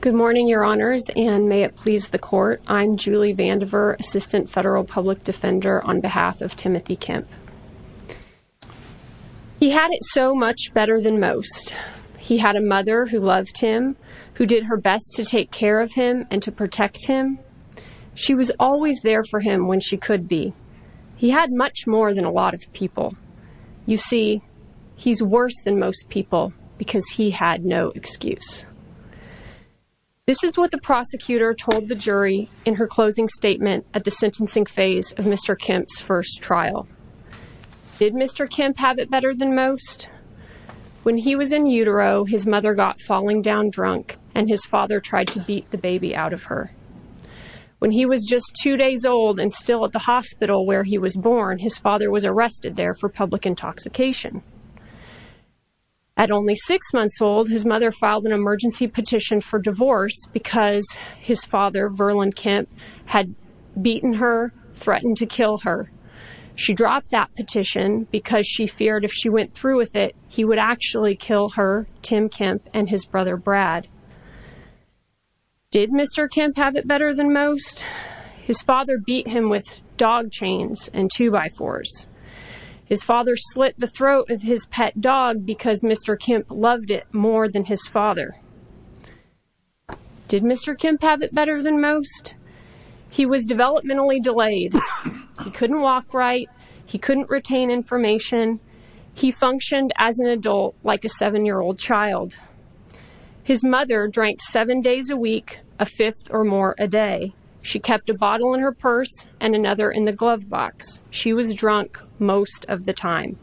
Good morning, Your Honors, and may it please the Court, I'm Julie Vandiver, Assistant Federal Public Defender on behalf of Timothy Kemp. He had it so much better than most. He had a mother who loved him, who did her best to take care of him and to protect him. She was always there for him when she could be. He had much more than a lot of people. You see, he's worse than most people because he had no excuse. This is what the prosecutor told the jury in her closing statement at the sentencing phase of Mr. Kemp's first trial. Did Mr. Kemp have it better than most? When he was in utero, his mother got falling down drunk and his father tried to beat the When he was just two days old and still at the hospital where he was born, his father was arrested there for public intoxication. At only six months old, his mother filed an emergency petition for divorce because his father, Verlin Kemp, had beaten her, threatened to kill her. She dropped that petition because she feared if she went through with it, he would actually kill her, Tim Kemp, and his brother Brad. Did Mr. Kemp have it better than most? His father beat him with dog chains and two-by-fours. His father slit the throat of his pet dog because Mr. Kemp loved it more than his father. Did Mr. Kemp have it better than most? He was developmentally delayed. He couldn't walk right. He couldn't retain information. He functioned as an adult, like a seven-year-old child. His mother drank seven days a week, a fifth or more a day. She kept a bottle in her purse and another in the glove box. She was drunk most of the time.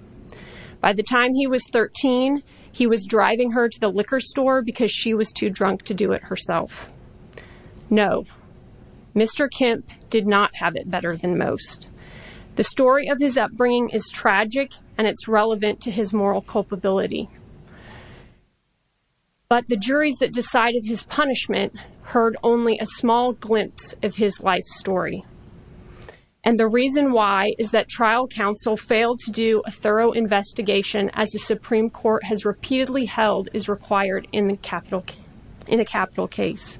By the time he was 13, he was driving her to the liquor store because she was too drunk to do it herself. No, Mr. Kemp did not have it better than most. The story of his upbringing is tragic and it's relevant to his moral culpability. But the juries that decided his punishment heard only a small glimpse of his life story. And the reason why is that trial counsel failed to do a thorough investigation as the Supreme Court has repeatedly held is required in a capital case.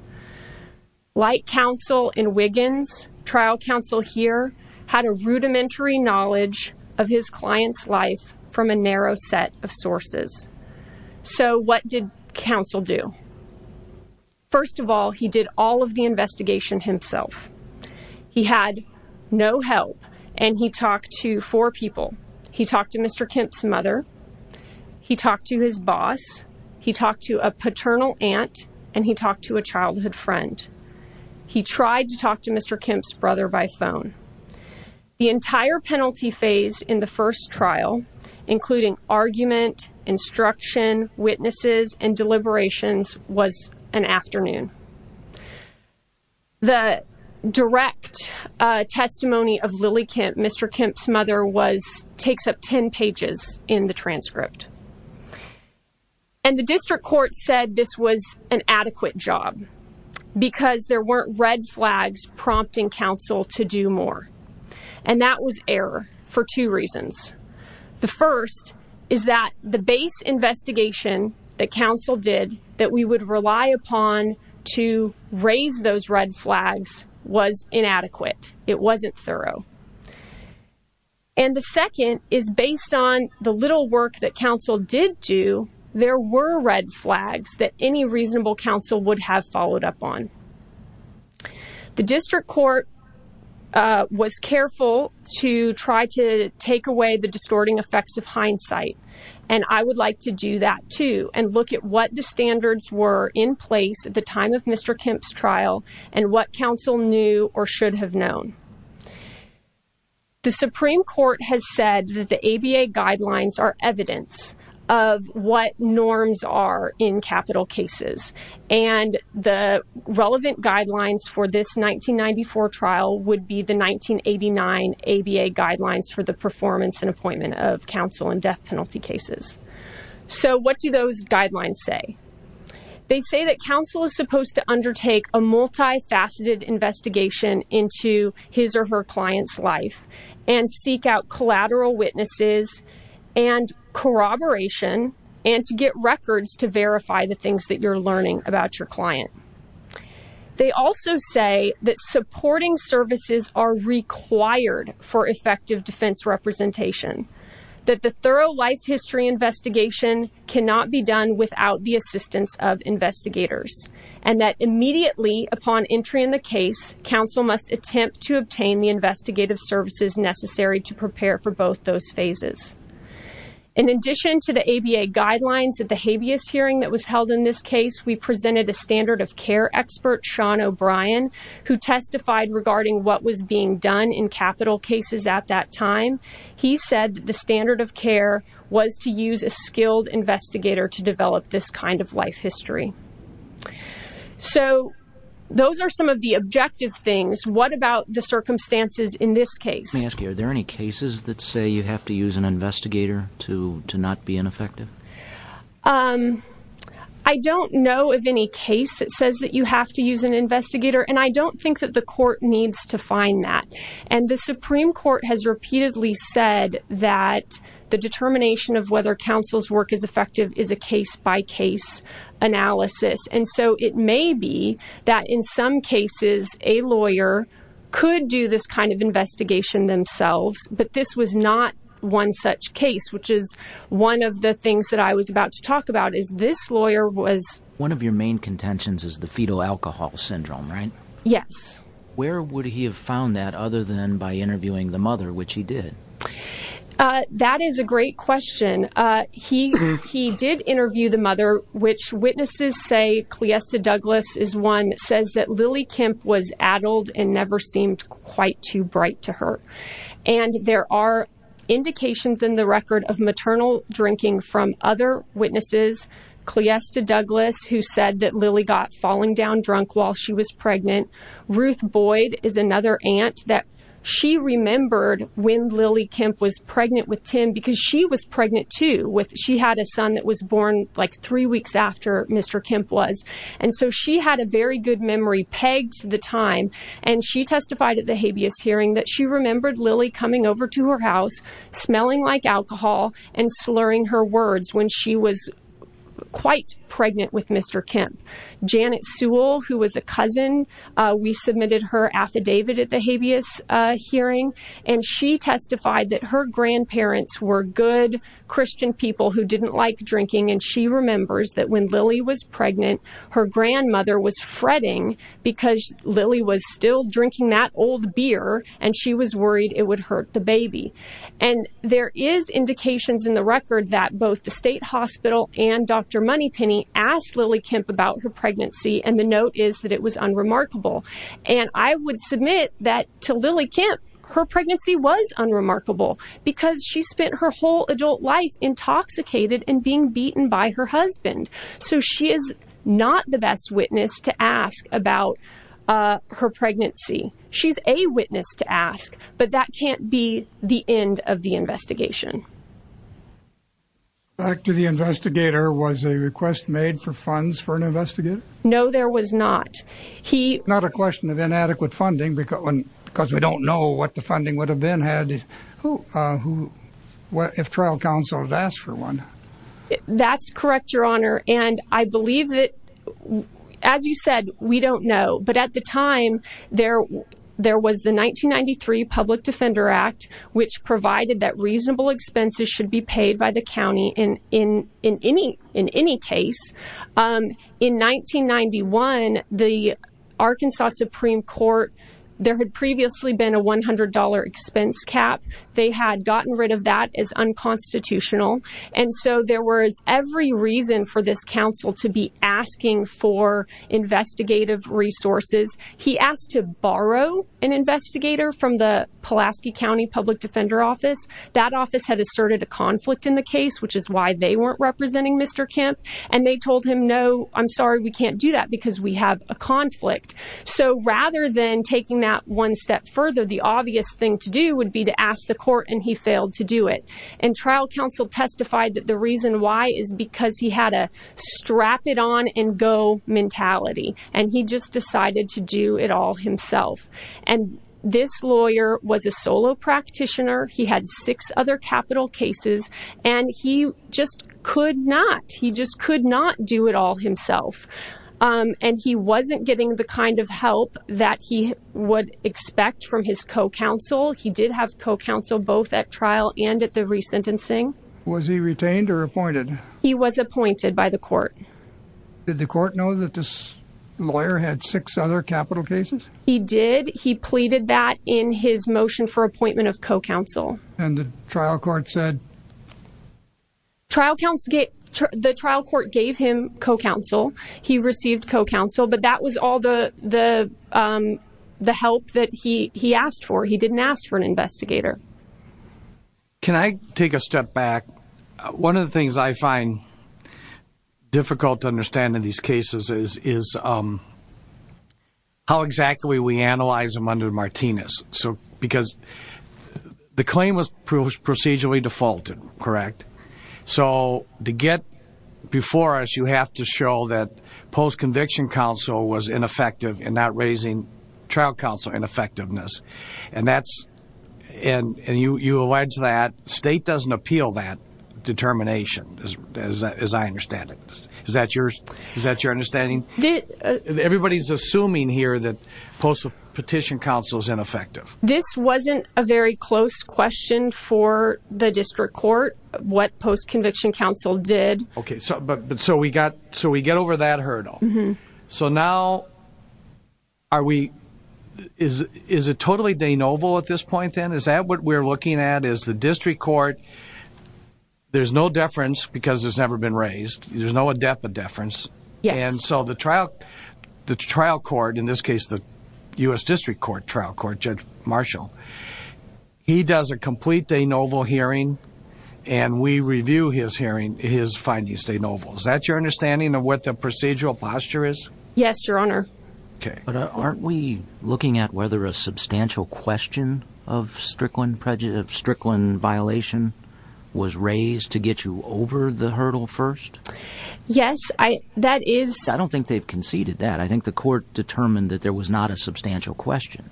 Like counsel in Wiggins, trial counsel here had a rudimentary knowledge of his client's life from a narrow set of sources. So what did counsel do? First of all, he did all of the investigation himself. He had no help and he talked to four people. He talked to Mr. Kemp's mother. He talked to his boss. He talked to a paternal aunt and he talked to a childhood friend. He tried to talk to Mr. Kemp's brother by phone. The entire penalty phase in the first trial, including argument, instruction, witnesses, and deliberations was an afternoon. The direct testimony of Lily Kemp, Mr. Kemp's mother, takes up 10 pages in the transcript. And the district court said this was an adequate job because there weren't red flags prompting counsel to do more. And that was error for two reasons. The first is that the base investigation that counsel did that we would rely upon to raise those red flags was inadequate. It wasn't thorough. And the second is based on the little work that counsel did do, there were red flags that any reasonable counsel would have followed up on. The district court was careful to try to take away the distorting effects of hindsight. And I would like to do that too and look at what the standards were in place at the time of Mr. Kemp's trial and what counsel knew or should have known. The Supreme Court has said that the ABA guidelines are evidence of what norms are in capital death cases. And the relevant guidelines for this 1994 trial would be the 1989 ABA guidelines for the performance and appointment of counsel in death penalty cases. So what do those guidelines say? They say that counsel is supposed to undertake a multifaceted investigation into his or her client's life and seek out collateral witnesses and corroboration and to get records to verify the things that you're learning about your client. They also say that supporting services are required for effective defense representation. That the thorough life history investigation cannot be done without the assistance of investigators. And that immediately upon entry in the case, counsel must attempt to obtain the investigative services necessary to prepare for both those phases. In addition to the ABA guidelines at the habeas hearing that was held in this case, we presented a standard of care expert, Sean O'Brien, who testified regarding what was being done in capital cases at that time. He said that the standard of care was to use a skilled investigator to develop this kind of life history. So those are some of the objective things. What about the circumstances in this case? Let me ask you, are there any cases that say you have to use an investigator to not be ineffective? I don't know of any case that says that you have to use an investigator. And I don't think that the court needs to find that. And the Supreme Court has repeatedly said that the determination of whether counsel's work is effective is a case-by-case analysis. And so it may be that in some cases a lawyer could do this kind of investigation themselves, but this was not one such case, which is one of the things that I was about to talk about is this lawyer was... One of your main contentions is the fetal alcohol syndrome, right? Yes. Where would he have found that other than by interviewing the mother, which he did? That is a great question. He did interview the mother, which witnesses say, Cliesta Douglas is one that says that Lily Kemp was addled and never seemed quite too bright to her. And there are indications in the record of maternal drinking from other witnesses. Cliesta Douglas, who said that Lily got falling down drunk while she was pregnant. Ruth Boyd is another aunt that she remembered when Lily Kemp was pregnant with Tim because she was pregnant too. She had a son that was born like three weeks after Mr. Kemp was. And so she had a very good memory pegged to the time and she testified at the habeas hearing that she remembered Lily coming over to her house, smelling like alcohol and slurring her words when she was quite pregnant with Mr. Kemp. Janet Sewell, who was a cousin, we submitted her affidavit at the habeas hearing and she is one of those good Christian people who didn't like drinking. And she remembers that when Lily was pregnant, her grandmother was fretting because Lily was still drinking that old beer and she was worried it would hurt the baby. And there is indications in the record that both the state hospital and Dr. Moneypenny asked Lily Kemp about her pregnancy. And the note is that it was unremarkable. And I would submit that to Lily Kemp, her pregnancy was unremarkable because she spent her whole adult life intoxicated and being beaten by her husband. So she is not the best witness to ask about her pregnancy. She's a witness to ask, but that can't be the end of the investigation. Back to the investigator, was a request made for funds for an investigator? No, there was not. He not a question of inadequate funding because we don't know what the funding would have been if trial counsel had asked for one. That's correct, your honor. And I believe that, as you said, we don't know. But at the time, there was the 1993 Public Defender Act, which provided that reasonable expenses should be paid by the county in any case. In 1991, the Arkansas Supreme Court, there had previously been a $100 expense cap. They had gotten rid of that as unconstitutional. And so there was every reason for this counsel to be asking for investigative resources. He asked to borrow an investigator from the Pulaski County Public Defender Office. That office had asserted a conflict in the case, which is why they weren't representing Mr. Kemp. And they told him, no, I'm sorry, we can't do that because we have a conflict. So rather than taking that one step further, the obvious thing to do would be to ask the court and he failed to do it. And trial counsel testified that the reason why is because he had a strap it on and go mentality and he just decided to do it all himself. And this lawyer was a solo practitioner. He had six other capital cases and he just could not. He just could not do it all himself. And he wasn't getting the kind of help that he would expect from his co-counsel. He did have co-counsel both at trial and at the resentencing. Was he retained or appointed? He was appointed by the court. Did the court know that this lawyer had six other capital cases? He did. He pleaded that in his motion for appointment of co-counsel. And the trial court said trial counts, get the trial court, gave him co-counsel. He received co-counsel, but that was all the, the, um, the help that he, he asked for. He didn't ask for an investigator. Can I take a step back? One of the things I find difficult to understand in these cases is, is, um, how exactly we analyze them under Martinez. So, because the claim was procedurally defaulted, correct? So to get before us, you have to show that post-conviction counsel was ineffective in not raising trial counsel ineffectiveness. And that's, and you, you allege that state doesn't appeal that determination as I understand it. Is that yours? Is that your understanding? Everybody's assuming here that post-petition counsel is ineffective. This wasn't a very close question for the district court, what post-conviction counsel did. Okay. So, but, but so we got, so we get over that hurdle. So now are we, is, is it totally de novo at this point then? Is that what we're looking at is the district court? There's no deference because there's never been raised. There's no adepa deference. Yes. And so the trial, the trial court, in this case, the U.S. district court trial court judge Marshall, he does a complete de novo hearing and we review his hearing, his findings de novo. Is that your understanding of what the procedural posture is? Yes, your honor. Okay. But aren't we looking at whether a substantial question of Strickland prejudice, of Strickland violation was raised to get you over the hurdle first? Yes. I, that is. I don't think they've conceded that. I think the court determined that there was not a substantial question.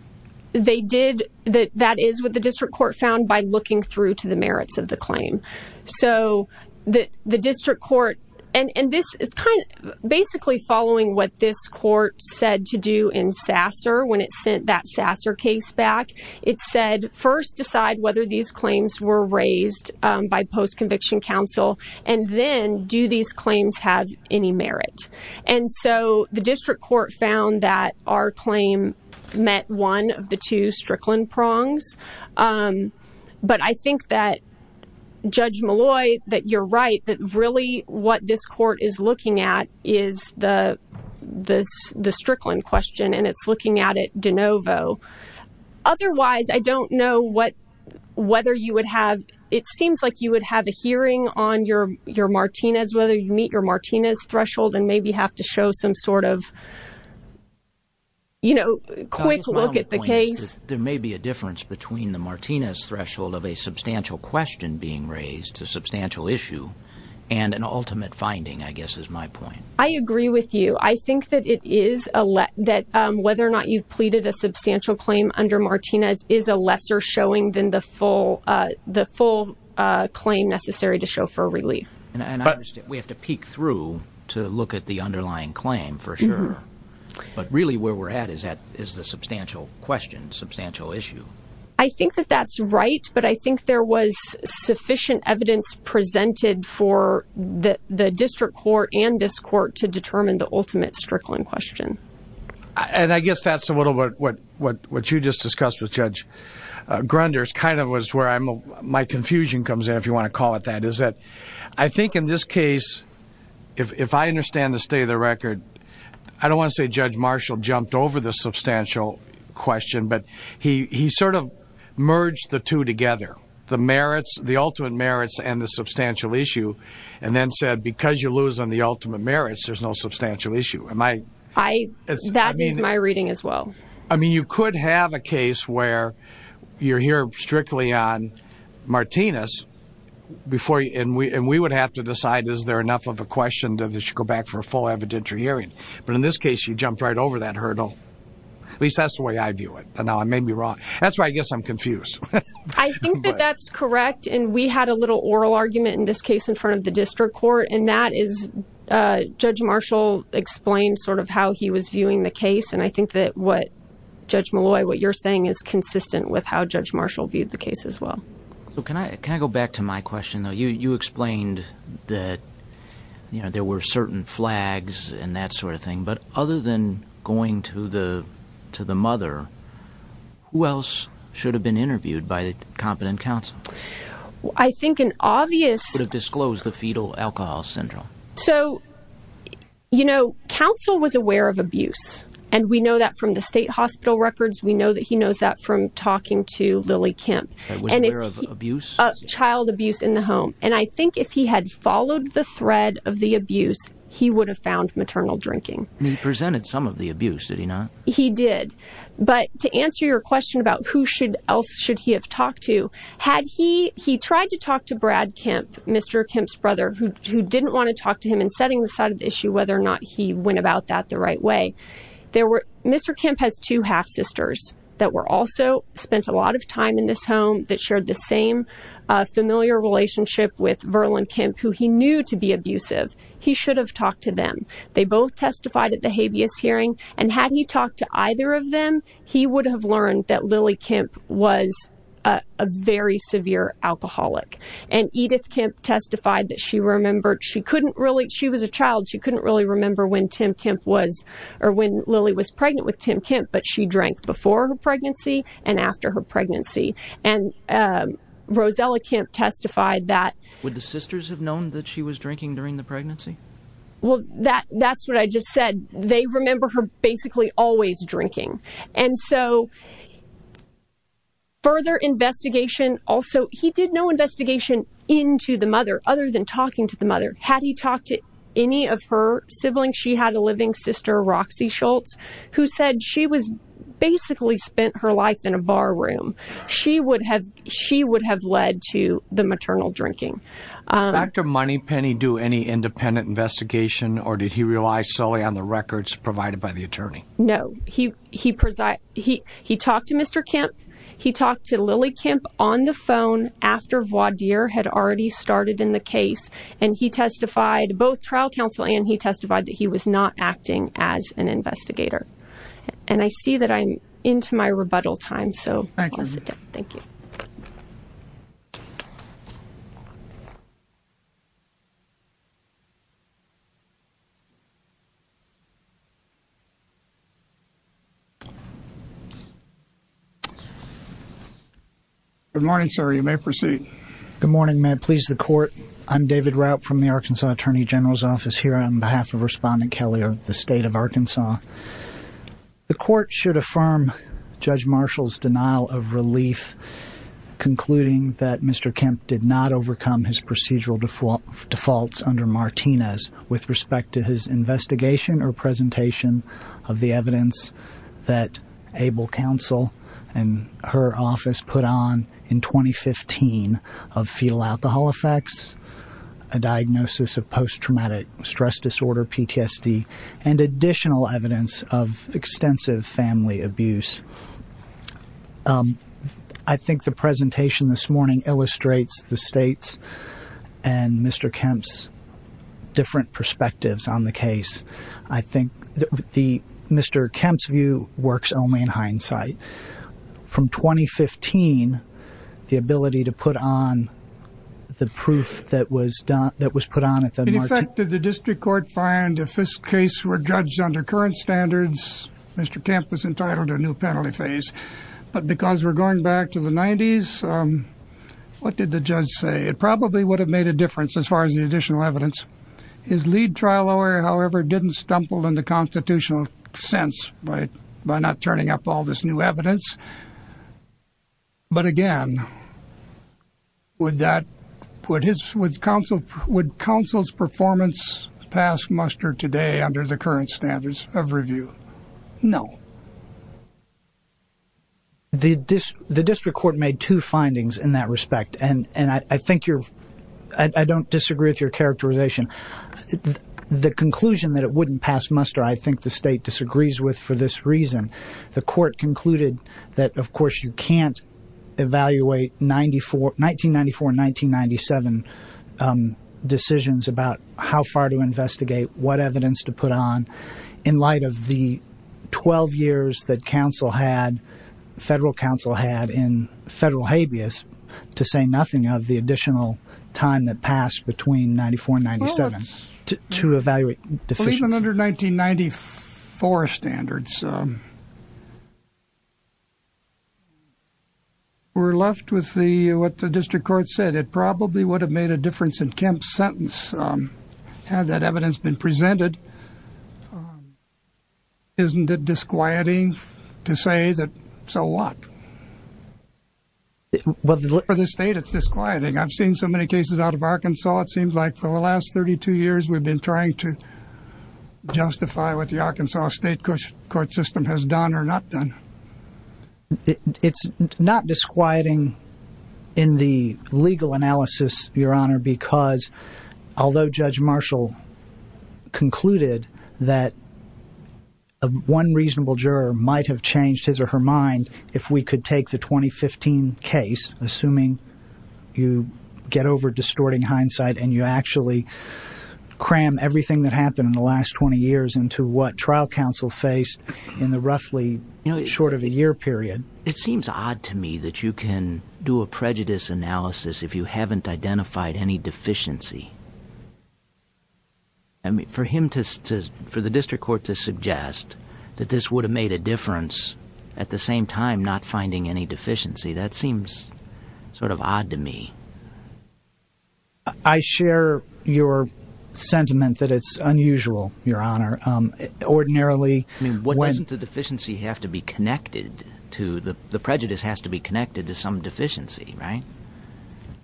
They did. That, that is what the district court found by looking through to the merits of the claim. So the, the district court, and, and this is kind of basically following what this court said to do in Sasser when it sent that Sasser case back, it said, first decide whether these any merit. And so the district court found that our claim met one of the two Strickland prongs. But I think that judge Malloy, that you're right, that really what this court is looking at is the, the, the Strickland question and it's looking at it de novo. Otherwise, I don't know what, whether you would have, it seems like you would have a and maybe have to show some sort of, you know, quick look at the case. There may be a difference between the Martinez threshold of a substantial question being raised, a substantial issue, and an ultimate finding, I guess is my point. I agree with you. I think that it is a, that whether or not you've pleaded a substantial claim under Martinez is a lesser showing than the full, the full claim necessary to show for relief. And I understand we have to peek through to look at the underlying claim for sure. But really where we're at is that is the substantial question, substantial issue. I think that that's right. But I think there was sufficient evidence presented for the district court and this court to determine the ultimate Strickland question. And I guess that's a little bit what, what, what you just discussed with Judge Grunders kind of was where I'm, my confusion comes in, if you want to call it that. Is that I think in this case, if, if I understand the state of the record, I don't want to say Judge Marshall jumped over the substantial question, but he, he sort of merged the two together, the merits, the ultimate merits and the substantial issue. And then said, because you lose on the ultimate merits, there's no substantial issue. Am I, I mean, I mean, you could have a case where you're here strictly on Martinez before and we, and we would have to decide, is there enough of a question that they should go back for a full evidentiary hearing? But in this case, you jumped right over that hurdle. At least that's the way I view it. And now I may be wrong. That's why I guess I'm confused. I think that that's correct. And we had a little oral argument in this case in front of the district court. And that is Judge Marshall explained sort of how he was viewing the case. And I think that what Judge Malloy, what you're saying is consistent with how Judge Marshall viewed the case as well. So can I, can I go back to my question though? You explained that, you know, there were certain flags and that sort of thing, but other than going to the, to the mother, who else should have been interviewed by the competent counsel? I think an obvious would have disclosed the fetal alcohol syndrome. So you know, counsel was aware of abuse and we know that from the state hospital records. We know that he knows that from talking to Lily Kemp. Child abuse in the home. And I think if he had followed the thread of the abuse, he would have found maternal drinking. He presented some of the abuse, did he not? He did. But to answer your question about who else should he have talked to, had he, he tried to talk to Brad Kemp, Mr. Kemp's brother, who didn't want to talk to him and setting the side of the issue, whether or not he went about that the right way. There were, Mr. Kemp has two half sisters that were also spent a lot of time in this home that shared the same familiar relationship with Verlin Kemp, who he knew to be abusive. He should have talked to them. They both testified at the habeas hearing and had he talked to either of them, he would have learned that Lily Kemp was a very severe alcoholic. And Edith Kemp testified that she remembered, she couldn't really, she was a child. She couldn't really remember when Tim Kemp was, or when Lily was pregnant with Tim Kemp, but she drank before her pregnancy and after her pregnancy. And Rosella Kemp testified that, would the sisters have known that she was drinking during the pregnancy? Well, that, that's what I just said. They remember her basically always drinking. And so further investigation also, he did no investigation into the mother other than talking to the mother. Had he talked to any of her siblings, she had a living sister, Roxy Schultz, who said she was basically spent her life in a bar room. She would have, she would have led to the maternal drinking. Did Dr. Moneypenny do any independent investigation or did he rely solely on the records provided by the attorney? No, he, he preside, he, he talked to Mr. Kemp. He talked to Lily Kemp on the phone after Voidier had already started in the case. And he testified, both trial counsel and he testified that he was not acting as an investigator. And I see that I'm into my rebuttal time. So thank you. Thank you. Good morning, sir. You may proceed. Good morning, ma'am. Please, the court. I'm David Rout from the Arkansas Attorney General's Office here on behalf of Respondent Kelly of the state of Arkansas. The court should affirm Judge Marshall's denial of relief, concluding that Mr. Kemp did not overcome his procedural defaults under Martinez with respect to his investigation or presentation of the evidence that Abel Counsel and her office put on in 2015 of fetal alcohol effects, a diagnosis of post-traumatic stress disorder, PTSD, and additional evidence of extensive family abuse. I think the presentation this morning illustrates the state's and Mr. Kemp's different perspectives on the case. I think that Mr. Kemp's view works only in hindsight. From 2015, the ability to put on the proof that was put on at the Martinez... In effect, did the district court find if this case were judged under current standards, Mr. Kemp was entitled to a new penalty phase. But because we're going back to the 90s, what did the judge say? It probably would have made a difference as far as the additional evidence. His lead trial lawyer, however, didn't stumble in the constitutional sense by not turning up all this new evidence. But again, would counsel's performance past muster today under the current standards of review? No. The district court made two findings in that respect, and I think you're... The conclusion that it wouldn't pass muster, I think the state disagrees with for this reason. The court concluded that, of course, you can't evaluate 1994 and 1997 decisions about how far to investigate, what evidence to put on, in light of the 12 years that federal counsel had in federal habeas, to say nothing of the additional time that passed between 94 and 97 to evaluate deficiencies. Well, even under 1994 standards, we're left with what the district court said. It probably would have made a difference in Kemp's sentence had that evidence been presented. Isn't it disquieting to say that, so what? For the state, it's disquieting. I've seen so many cases out of Arkansas, it seems like for the last 32 years, we've been trying to justify what the Arkansas state court system has done or not done. It's not disquieting in the legal analysis, Your Honor, because although Judge Marshall concluded that one reasonable juror might have changed his or her mind if we could take the 2015 case, assuming you get over distorting hindsight and you actually cram everything that happened in the last 20 years into what trial counsel faced in the roughly short of a year period. It seems odd to me that you can do a prejudice analysis if you haven't identified any deficiency. For the district court to suggest that this would have made a difference at the same time not finding any deficiency, that seems sort of odd to me. I share your sentiment that it's unusual, Your Honor. I mean, the prejudice has to be connected to some deficiency, right?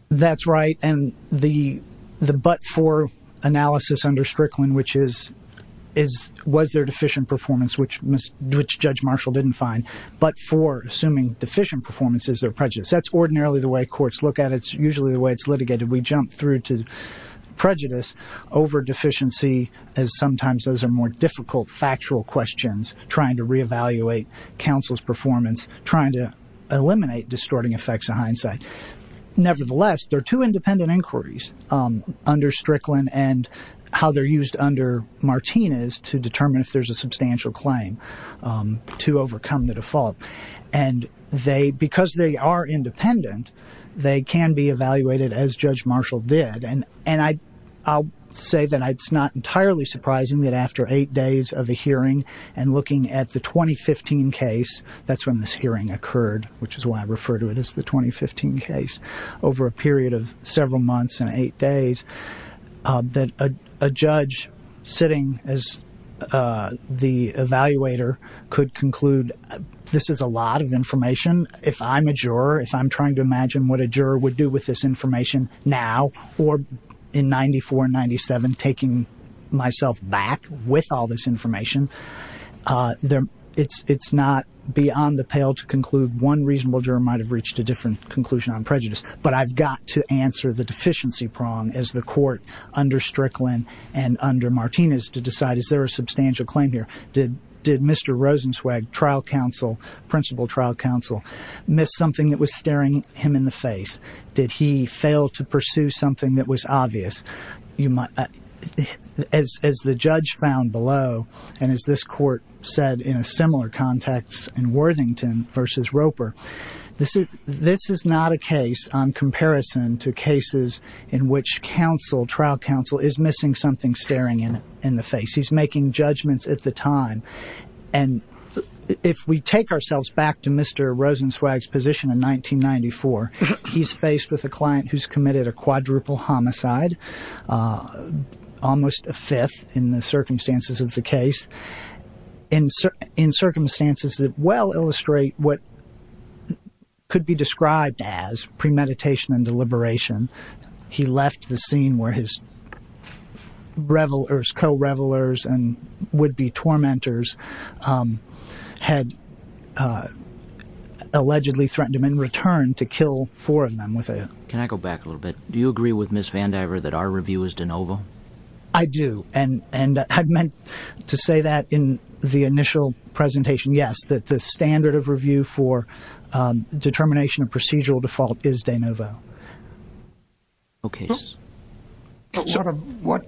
That's right, and the but-for analysis under Strickland, which is, was there deficient performance, which Judge Marshall didn't find, but-for, assuming deficient performance is their prejudice. That's ordinarily the way courts look at it. It's usually the way it's litigated. We jump through to prejudice over deficiency as sometimes those are more difficult factual questions trying to reevaluate counsel's performance, trying to eliminate distorting effects of hindsight. Nevertheless, there are two independent inquiries under Strickland and how they're used under Martinez to determine if there's a substantial claim to overcome the default, and they, because they are independent, they can be evaluated as Judge Marshall did, and I'll say that it's not entirely surprising that after eight days of the hearing and looking at the 2015 case, that's when this hearing occurred, which is why I refer to it as the 2015 case, over a period of several months and eight days, that a judge sitting as the evaluator could conclude this is a lot of information. If I'm a juror, if I'm trying to imagine what a juror would do with this information now, or in 94 and 97, taking myself back with all this information, it's not beyond the pale to conclude one reasonable juror might have reached a different conclusion on prejudice, but I've got to answer the deficiency prong as the court under Strickland and under Martinez to decide is there a substantial claim here? Did Mr. Rosenzweig, trial counsel, principal trial counsel, miss something that was staring him in the face? Did he fail to pursue something that was obvious? As the judge found below, and as this court said in a similar context in Worthington versus Roper, this is not a case on comparison to cases in which trial counsel is missing something staring him in the face. He's making judgments at the time, and if we take ourselves back to Mr. Rosenzweig's position in 1994, he's faced with a client who's committed a quadruple homicide, almost a fifth in the circumstances of the case, in circumstances that well illustrate what could be described as premeditation and deliberation. He left the scene where his revelers, co-revelers, and would-be tormentors had allegedly threatened him in return to kill four of them with a... Can I go back a little bit? Do you agree with Miss Vandiver that our review is de novo? I do, and I meant to say that in the initial presentation, yes, that the standard of review for determination of procedural default is de novo. Okay. Sort of what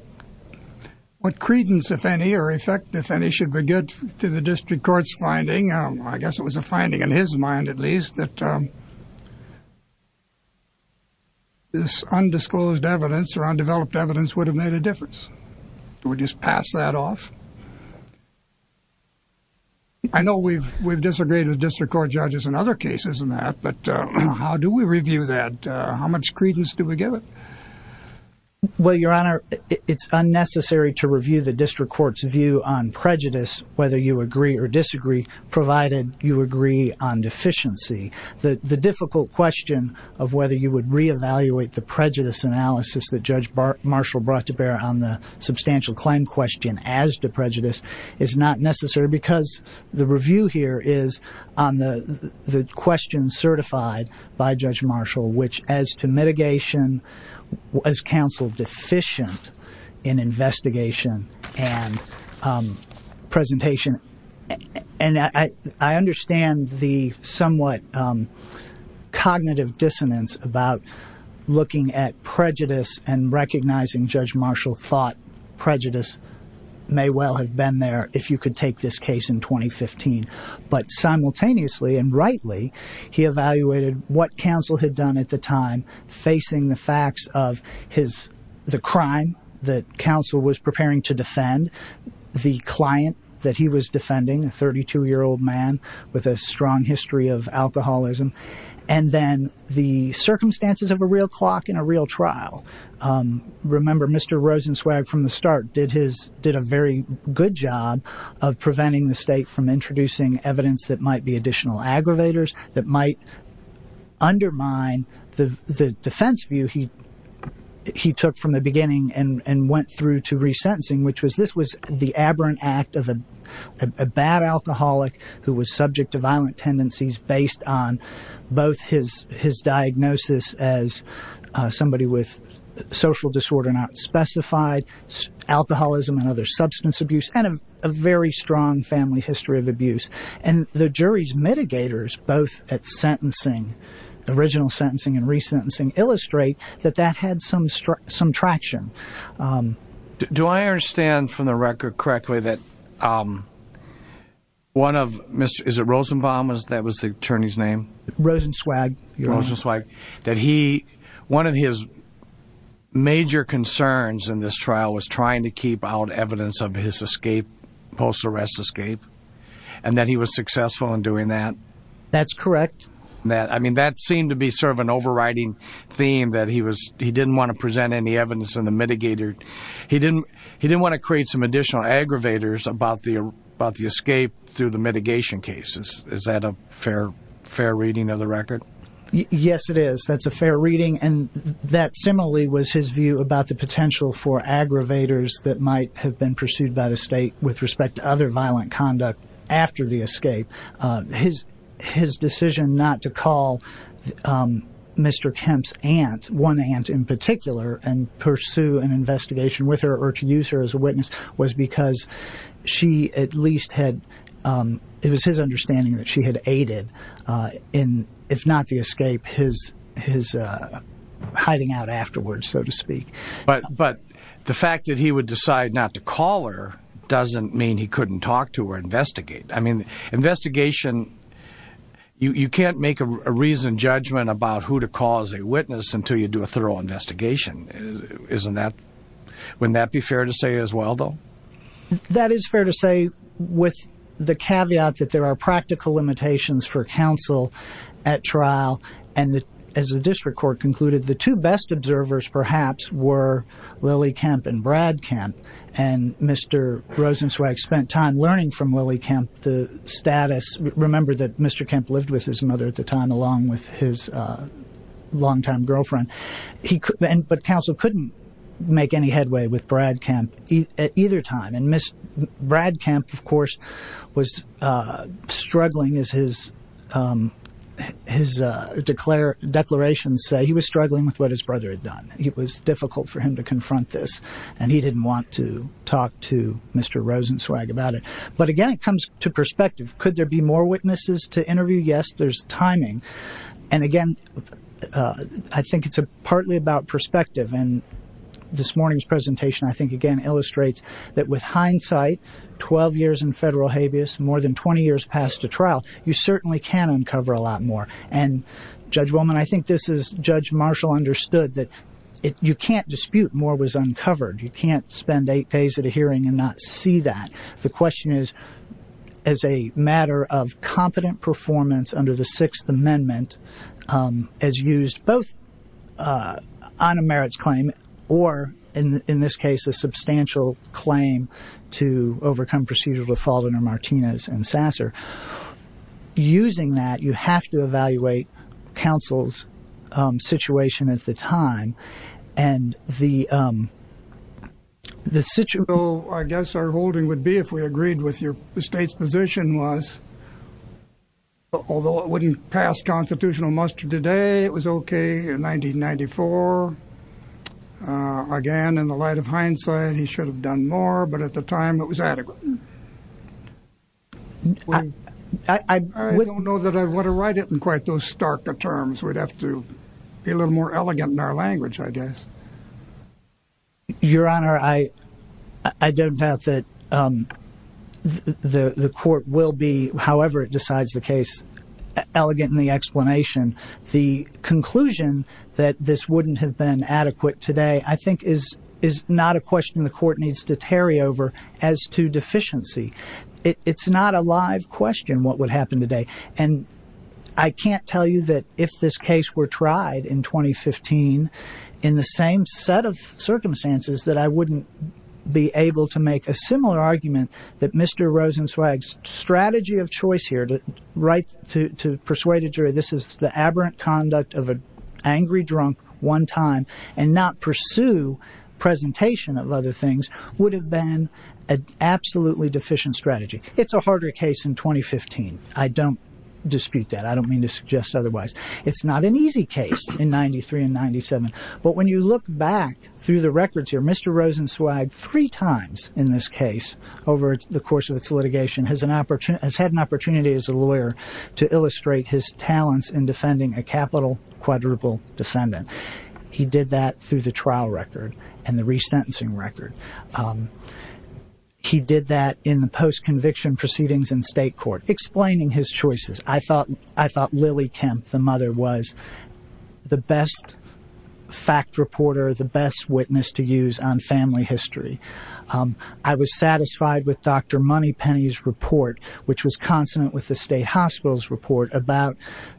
credence, if any, or effect, if any, should be good to the district court's finding. I guess it was a finding in his mind, at least, that this undisclosed evidence or undeveloped evidence would have made a difference. Do we just pass that off? I know we've disagreed with district court judges in other cases in that, but how do we review that? How much credence do we give it? Well, Your Honor, it's unnecessary to review the district court's view on prejudice, whether you agree or disagree, provided you agree on deficiency. The difficult question of whether you would re-evaluate the prejudice analysis that Judge Marshall brought to bear on the substantial claim question as to prejudice is not necessary because the review here is on the question certified by Judge Marshall, which, as to mitigation, was counsel deficient in investigation and presentation. And I understand the somewhat cognitive dissonance about looking at prejudice and recognizing Judge Marshall thought prejudice may well have been there if you could take this case in 2015. But simultaneously, and rightly, he evaluated what counsel had done at the time facing the facts of the crime that counsel was preparing to defend, the client that he was defending, a 32-year-old man with a strong history of alcoholism, and then the circumstances of a real clock in a real trial. Remember, Mr. Rosenzweig, from the start, did a very good job of preventing the state from introducing evidence that might be additional aggravators, that might undermine the defense view he took from the beginning and went through to resentencing, which was this was the aberrant act of a bad alcoholic who was subject to violent tendencies based on both his diagnosis as somebody with social disorder not specified, alcoholism and other substance abuse, and a very strong family history of abuse. And the jury's mitigators, both at sentencing, original sentencing and resentencing, illustrate that that had some traction. Do I understand from the record correctly that one of, is it Rosenbaum, that was the attorney's name? Rosenzweig. Rosenzweig, that he, one of his major concerns in this trial was trying to keep out evidence of his escape, post-arrest escape, and that he was successful in doing that? That's correct. I mean, that seemed to be sort of an overriding theme, that he was, he didn't want to present any evidence on the mitigator. He didn't want to create some additional aggravators about the escape through the mitigation cases. Is that a fair reading of the record? Yes, it is. That's a fair reading, and that similarly was his view about the potential for aggravators that might have been pursued by the state with respect to other violent conduct after the escape. His decision not to call Mr. Kemp's aunt, one aunt in particular, and pursue an investigation with her or to use her as a witness was because she at least had, it was his understanding that she had aided in, if not the escape, his hiding out afterwards, so to speak. But the fact that he would decide not to call her doesn't mean he couldn't talk to her or investigate. I mean, investigation, you can't make a reasoned judgment about who to call as a witness until you do a thorough investigation. Isn't that, wouldn't that be fair to say as well, though? That is fair to say with the caveat that there are practical limitations for counsel at trial and that, as the district court concluded, the two best observers perhaps were Lily Kemp and Brad Kemp. And Mr. Rosenzweig spent time learning from Lily Kemp the status, remember that Mr. Kemp lived with his mother at the time along with his long-time girlfriend. He, but counsel couldn't make any headway with Brad Kemp at either time. And Brad Kemp, of course, was struggling as his declarations say. He was struggling with what his brother had done. It was difficult for him to confront this and he didn't want to talk to Mr. Rosenzweig about it. But again, it comes to perspective. Could there be more witnesses to interview? Yes, there's timing. And again, I think it's partly about perspective. And this morning's presentation, I think, again, illustrates that with hindsight, 12 years in federal habeas, more than 20 years past a trial, you certainly can uncover a lot more. And Judge Wellman, I think this is, Judge Marshall understood that you can't dispute more was uncovered. You can't spend eight days at a hearing and not see that. The question is, as a matter of competent performance under the Sixth Amendment as used both on a merits claim or in this case, a substantial claim to overcome procedural default under Martinez and Sasser. Using that, you have to evaluate counsel's situation at the time. And the situation, I guess our holding would be if we agreed with your state's position was, although it wouldn't pass constitutional muster today, it was OK in 1994. Again, in the light of hindsight, he should have done more. But at the time, it was adequate. I don't know that I want to write it in quite those stark terms. We'd have to be a little more elegant in our language, I guess. Your Honor, I don't doubt that the court will be, however it decides the case, elegant in the explanation. The conclusion that this wouldn't have been adequate today, I think, is is not a question the court needs to tarry over as to deficiency. It's not a live question what would happen today. And I can't tell you that if this case were tried in 2015 in the same set of circumstances that I wouldn't be able to make a similar argument that Mr. Rosenzweig's strategy of choice here to write to persuade a jury this is the aberrant conduct of an angry drunk one time and not pursue presentation of other things would have been an absolutely deficient strategy. It's a harder case in 2015. I don't dispute that. I don't mean to suggest otherwise. It's not an easy case in 93 and 97. But when you look back through the records here, Mr. Rosenzweig, three times in this case over the course of its litigation, has had an opportunity as a lawyer to illustrate his talents in defending a capital quadruple defendant. He did that through the trial record and the resentencing record. He did that in the post-conviction proceedings in state court, explaining his choices. I thought Lily Kemp, the mother, was the best fact reporter, the best witness to use on family history. I was satisfied with Dr. Moneypenny's report, which was consonant with the state hospital's report about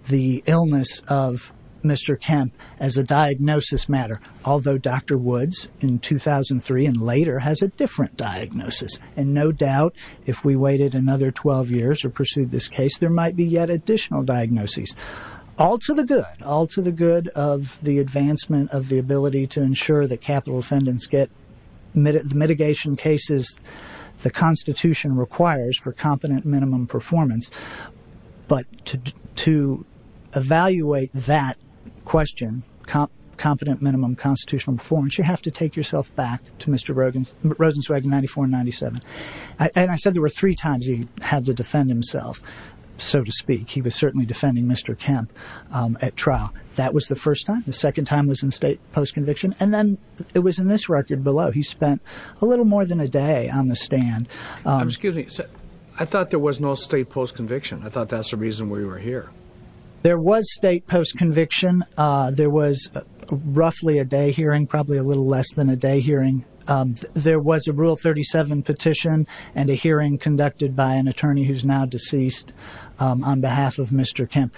the illness of Mr. Kemp as a diagnosis matter, although Dr. Woods in 2003 and later has a different diagnosis. And no doubt, if we waited another 12 years or pursued this case, there might be yet additional diagnoses. All to the good. All to the good of the advancement of the ability to ensure that capital defendants get mitigation cases the Constitution requires for competent minimum performance. But to evaluate that question, competent minimum constitutional performance, you have to take yourself back to Rosenzweig in 94 and 97. And I said there were three times he had to defend himself, so to speak. He was certainly defending Mr. Kemp at trial. That was the first time. The second time was in state post-conviction. And then it was in this record below. He spent a little more than a day on the stand. I'm excuse me. I thought there was no state post-conviction. I thought that's the reason we were here. There was state post-conviction. There was roughly a day hearing, probably a little less than a day hearing. There was a Rule 37 petition and a hearing conducted by an attorney who's now deceased on behalf of Mr. Kemp.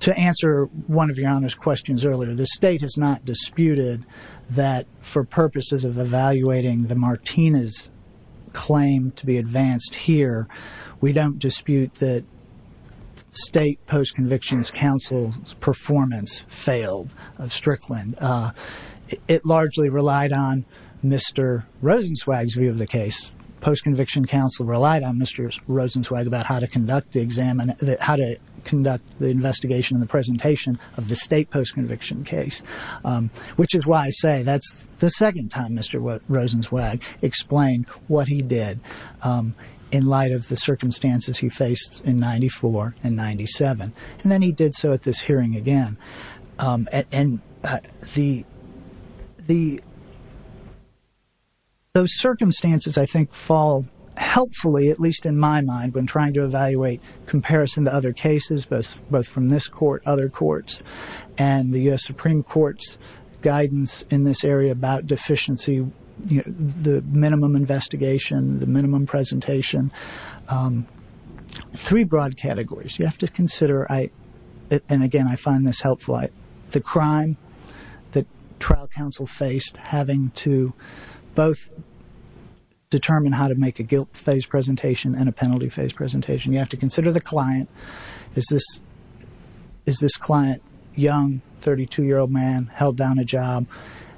To answer one of your Honor's questions earlier, the state has not disputed that for purposes of evaluating the Martinez claim to be advanced here, we don't dispute that state post-conviction counsel's performance failed of Strickland. It largely relied on Mr. Rosenzweig's view of the case. Post-conviction counsel relied on Mr. Rosenzweig about how to conduct the examination, how to conduct the investigation and the presentation of the state post-conviction case. Which is why I say that's the second time Mr. Rosenzweig explained what he did in light of the circumstances he faced in 94 and 97. And then he did so at this hearing again. And those circumstances, I think, fall helpfully, at least in my mind, when trying to evaluate comparison to other cases, both from this court, other courts, and the U.S. Supreme Court's guidance in this area about deficiency, the minimum investigation, the minimum presentation. Three broad categories. You have to consider, and again, I find this helpful, the crime that trial counsel faced having to both determine how to make a guilt-phase presentation and a penalty-phase presentation. You have to consider the client, is this client young, 32-year-old man, held down a job?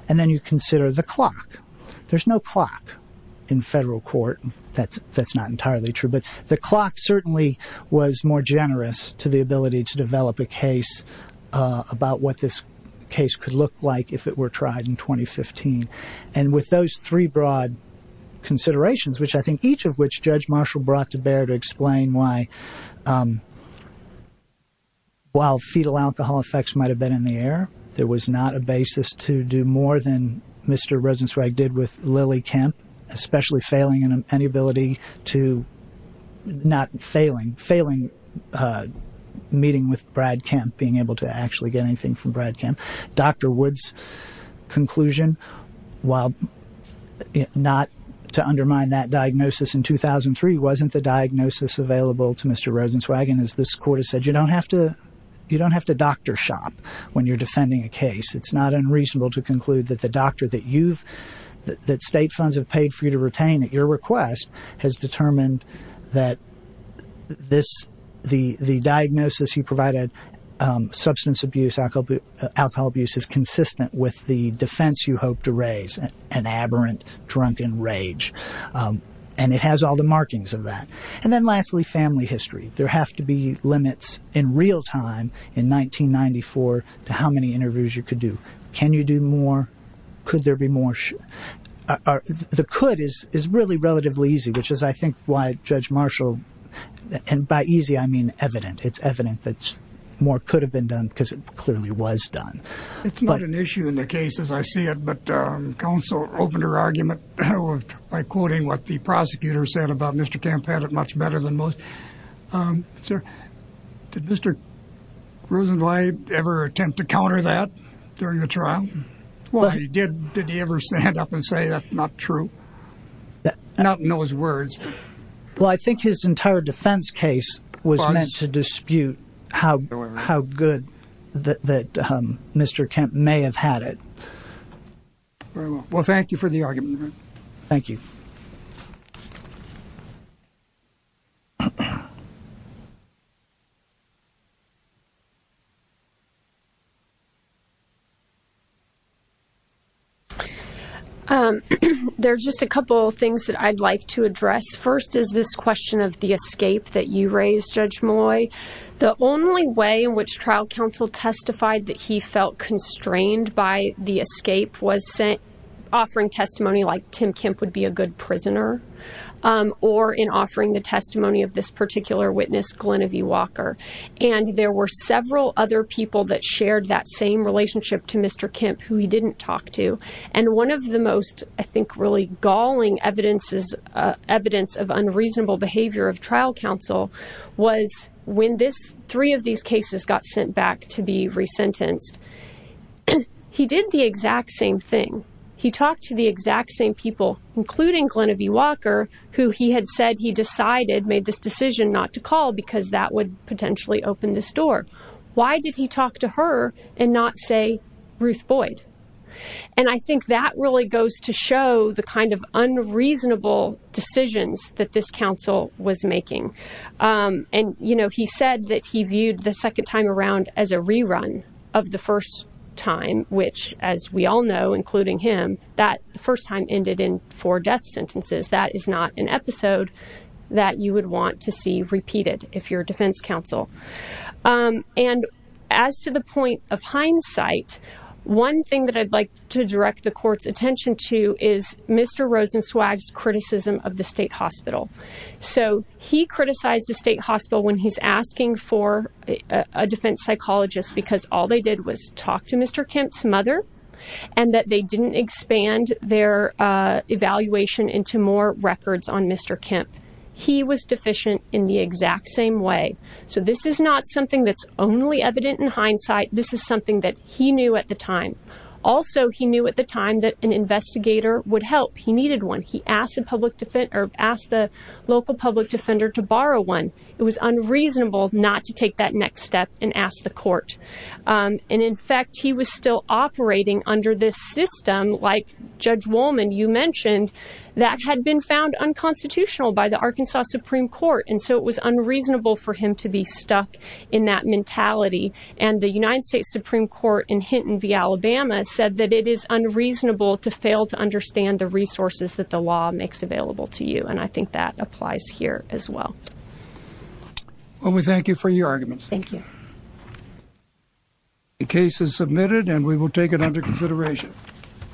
And then you consider the clock. There's no clock in federal court. That's not entirely true. But the clock certainly was more generous to the ability to develop a case about what this case could look like if it were tried in 2015. And with those three broad considerations, which I think each of which Judge Marshall brought to bear to explain why while fetal alcohol effects might have been in the air, there was not a basis to do more than Mr. Rosenzweig did with Lily Kemp, especially failing in any ability to, not failing, failing meeting with Brad Kemp, being able to actually get anything from Brad Kemp. Dr. Woods' conclusion, while not to undermine that diagnosis in 2003, wasn't the diagnosis available to Mr. Rosenzweig. As this court has said, you don't have to doctor shop when you're defending a case. It's not unreasonable to conclude that the doctor that state funds have paid for you to retain at your request has determined that the diagnosis you provided, substance abuse, alcohol abuse, is consistent with the defense you hope to raise, an aberrant, drunken rage. And it has all the markings of that. And then lastly, family history. There have to be limits in real time in 1994 to how many interviews you could do. Can you do more? Could there be more? The could is really relatively easy, which is, I think, why Judge Marshall, and by easy, I mean evident. It's evident that more could have been done because it clearly was done. It's not an issue in the case as I see it, but counsel opened her argument by quoting what the prosecutor said about Mr. Kemp had it much better than most. Sir, did Mr. Rosenblatt ever attempt to counter that during the trial? Well, he did. Did he ever stand up and say that's not true? Not in those words. Well, I think his entire defense case was meant to dispute how good that Mr. Kemp may have had it. Well, thank you for the argument. Thank you. Thank you. There's just a couple of things that I'd like to address. First is this question of the escape that you raised, Judge Malloy. The only way in which trial counsel testified that he felt constrained by the escape was offering testimony like Tim Kemp would be a good prisoner or in offering the testimony of this particular witness, Glenn V. Walker. And there were several other people that shared that same relationship to Mr. Kemp who he didn't talk to. And one of the most, I think, really galling evidence of unreasonable behavior of trial counsel was when three of these cases got sent back to be resentenced. He did the exact same thing. He talked to the exact same people, including Glenn V. Walker, who he had said he decided not to call because that would potentially open this door. Why did he talk to her and not say Ruth Boyd? And I think that really goes to show the kind of unreasonable decisions that this counsel was making. And he said that he viewed the second time around as a rerun of the first time, which, as we all know, including him, that first time ended in four death sentences. That is not an episode that you would want to see repeated if you're a defense counsel. And as to the point of hindsight, one thing that I'd like to direct the court's attention to is Mr. Rosenzweig's criticism of the state hospital. So he criticized the state hospital when he's asking for a defense psychologist because all they did was talk to Mr. Kemp's mother and that they didn't expand their evaluation into more records on Mr. Kemp. He was deficient in the exact same way. So this is not something that's only evident in hindsight. This is something that he knew at the time. Also, he knew at the time that an investigator would help. He needed one. He asked the local public defender to borrow one. It was unreasonable not to take that next step and ask the court. And in fact, he was still operating under this system. Like Judge Wolman, you mentioned that had been found unconstitutional by the Arkansas Supreme Court. And so it was unreasonable for him to be stuck in that mentality. And the United States Supreme Court in Hinton v. Alabama said that it is unreasonable to fail to understand the resources that the law makes available to you. And I think that applies here as well. Well, we thank you for your arguments. Thank you. The case is submitted and we will take it under consideration.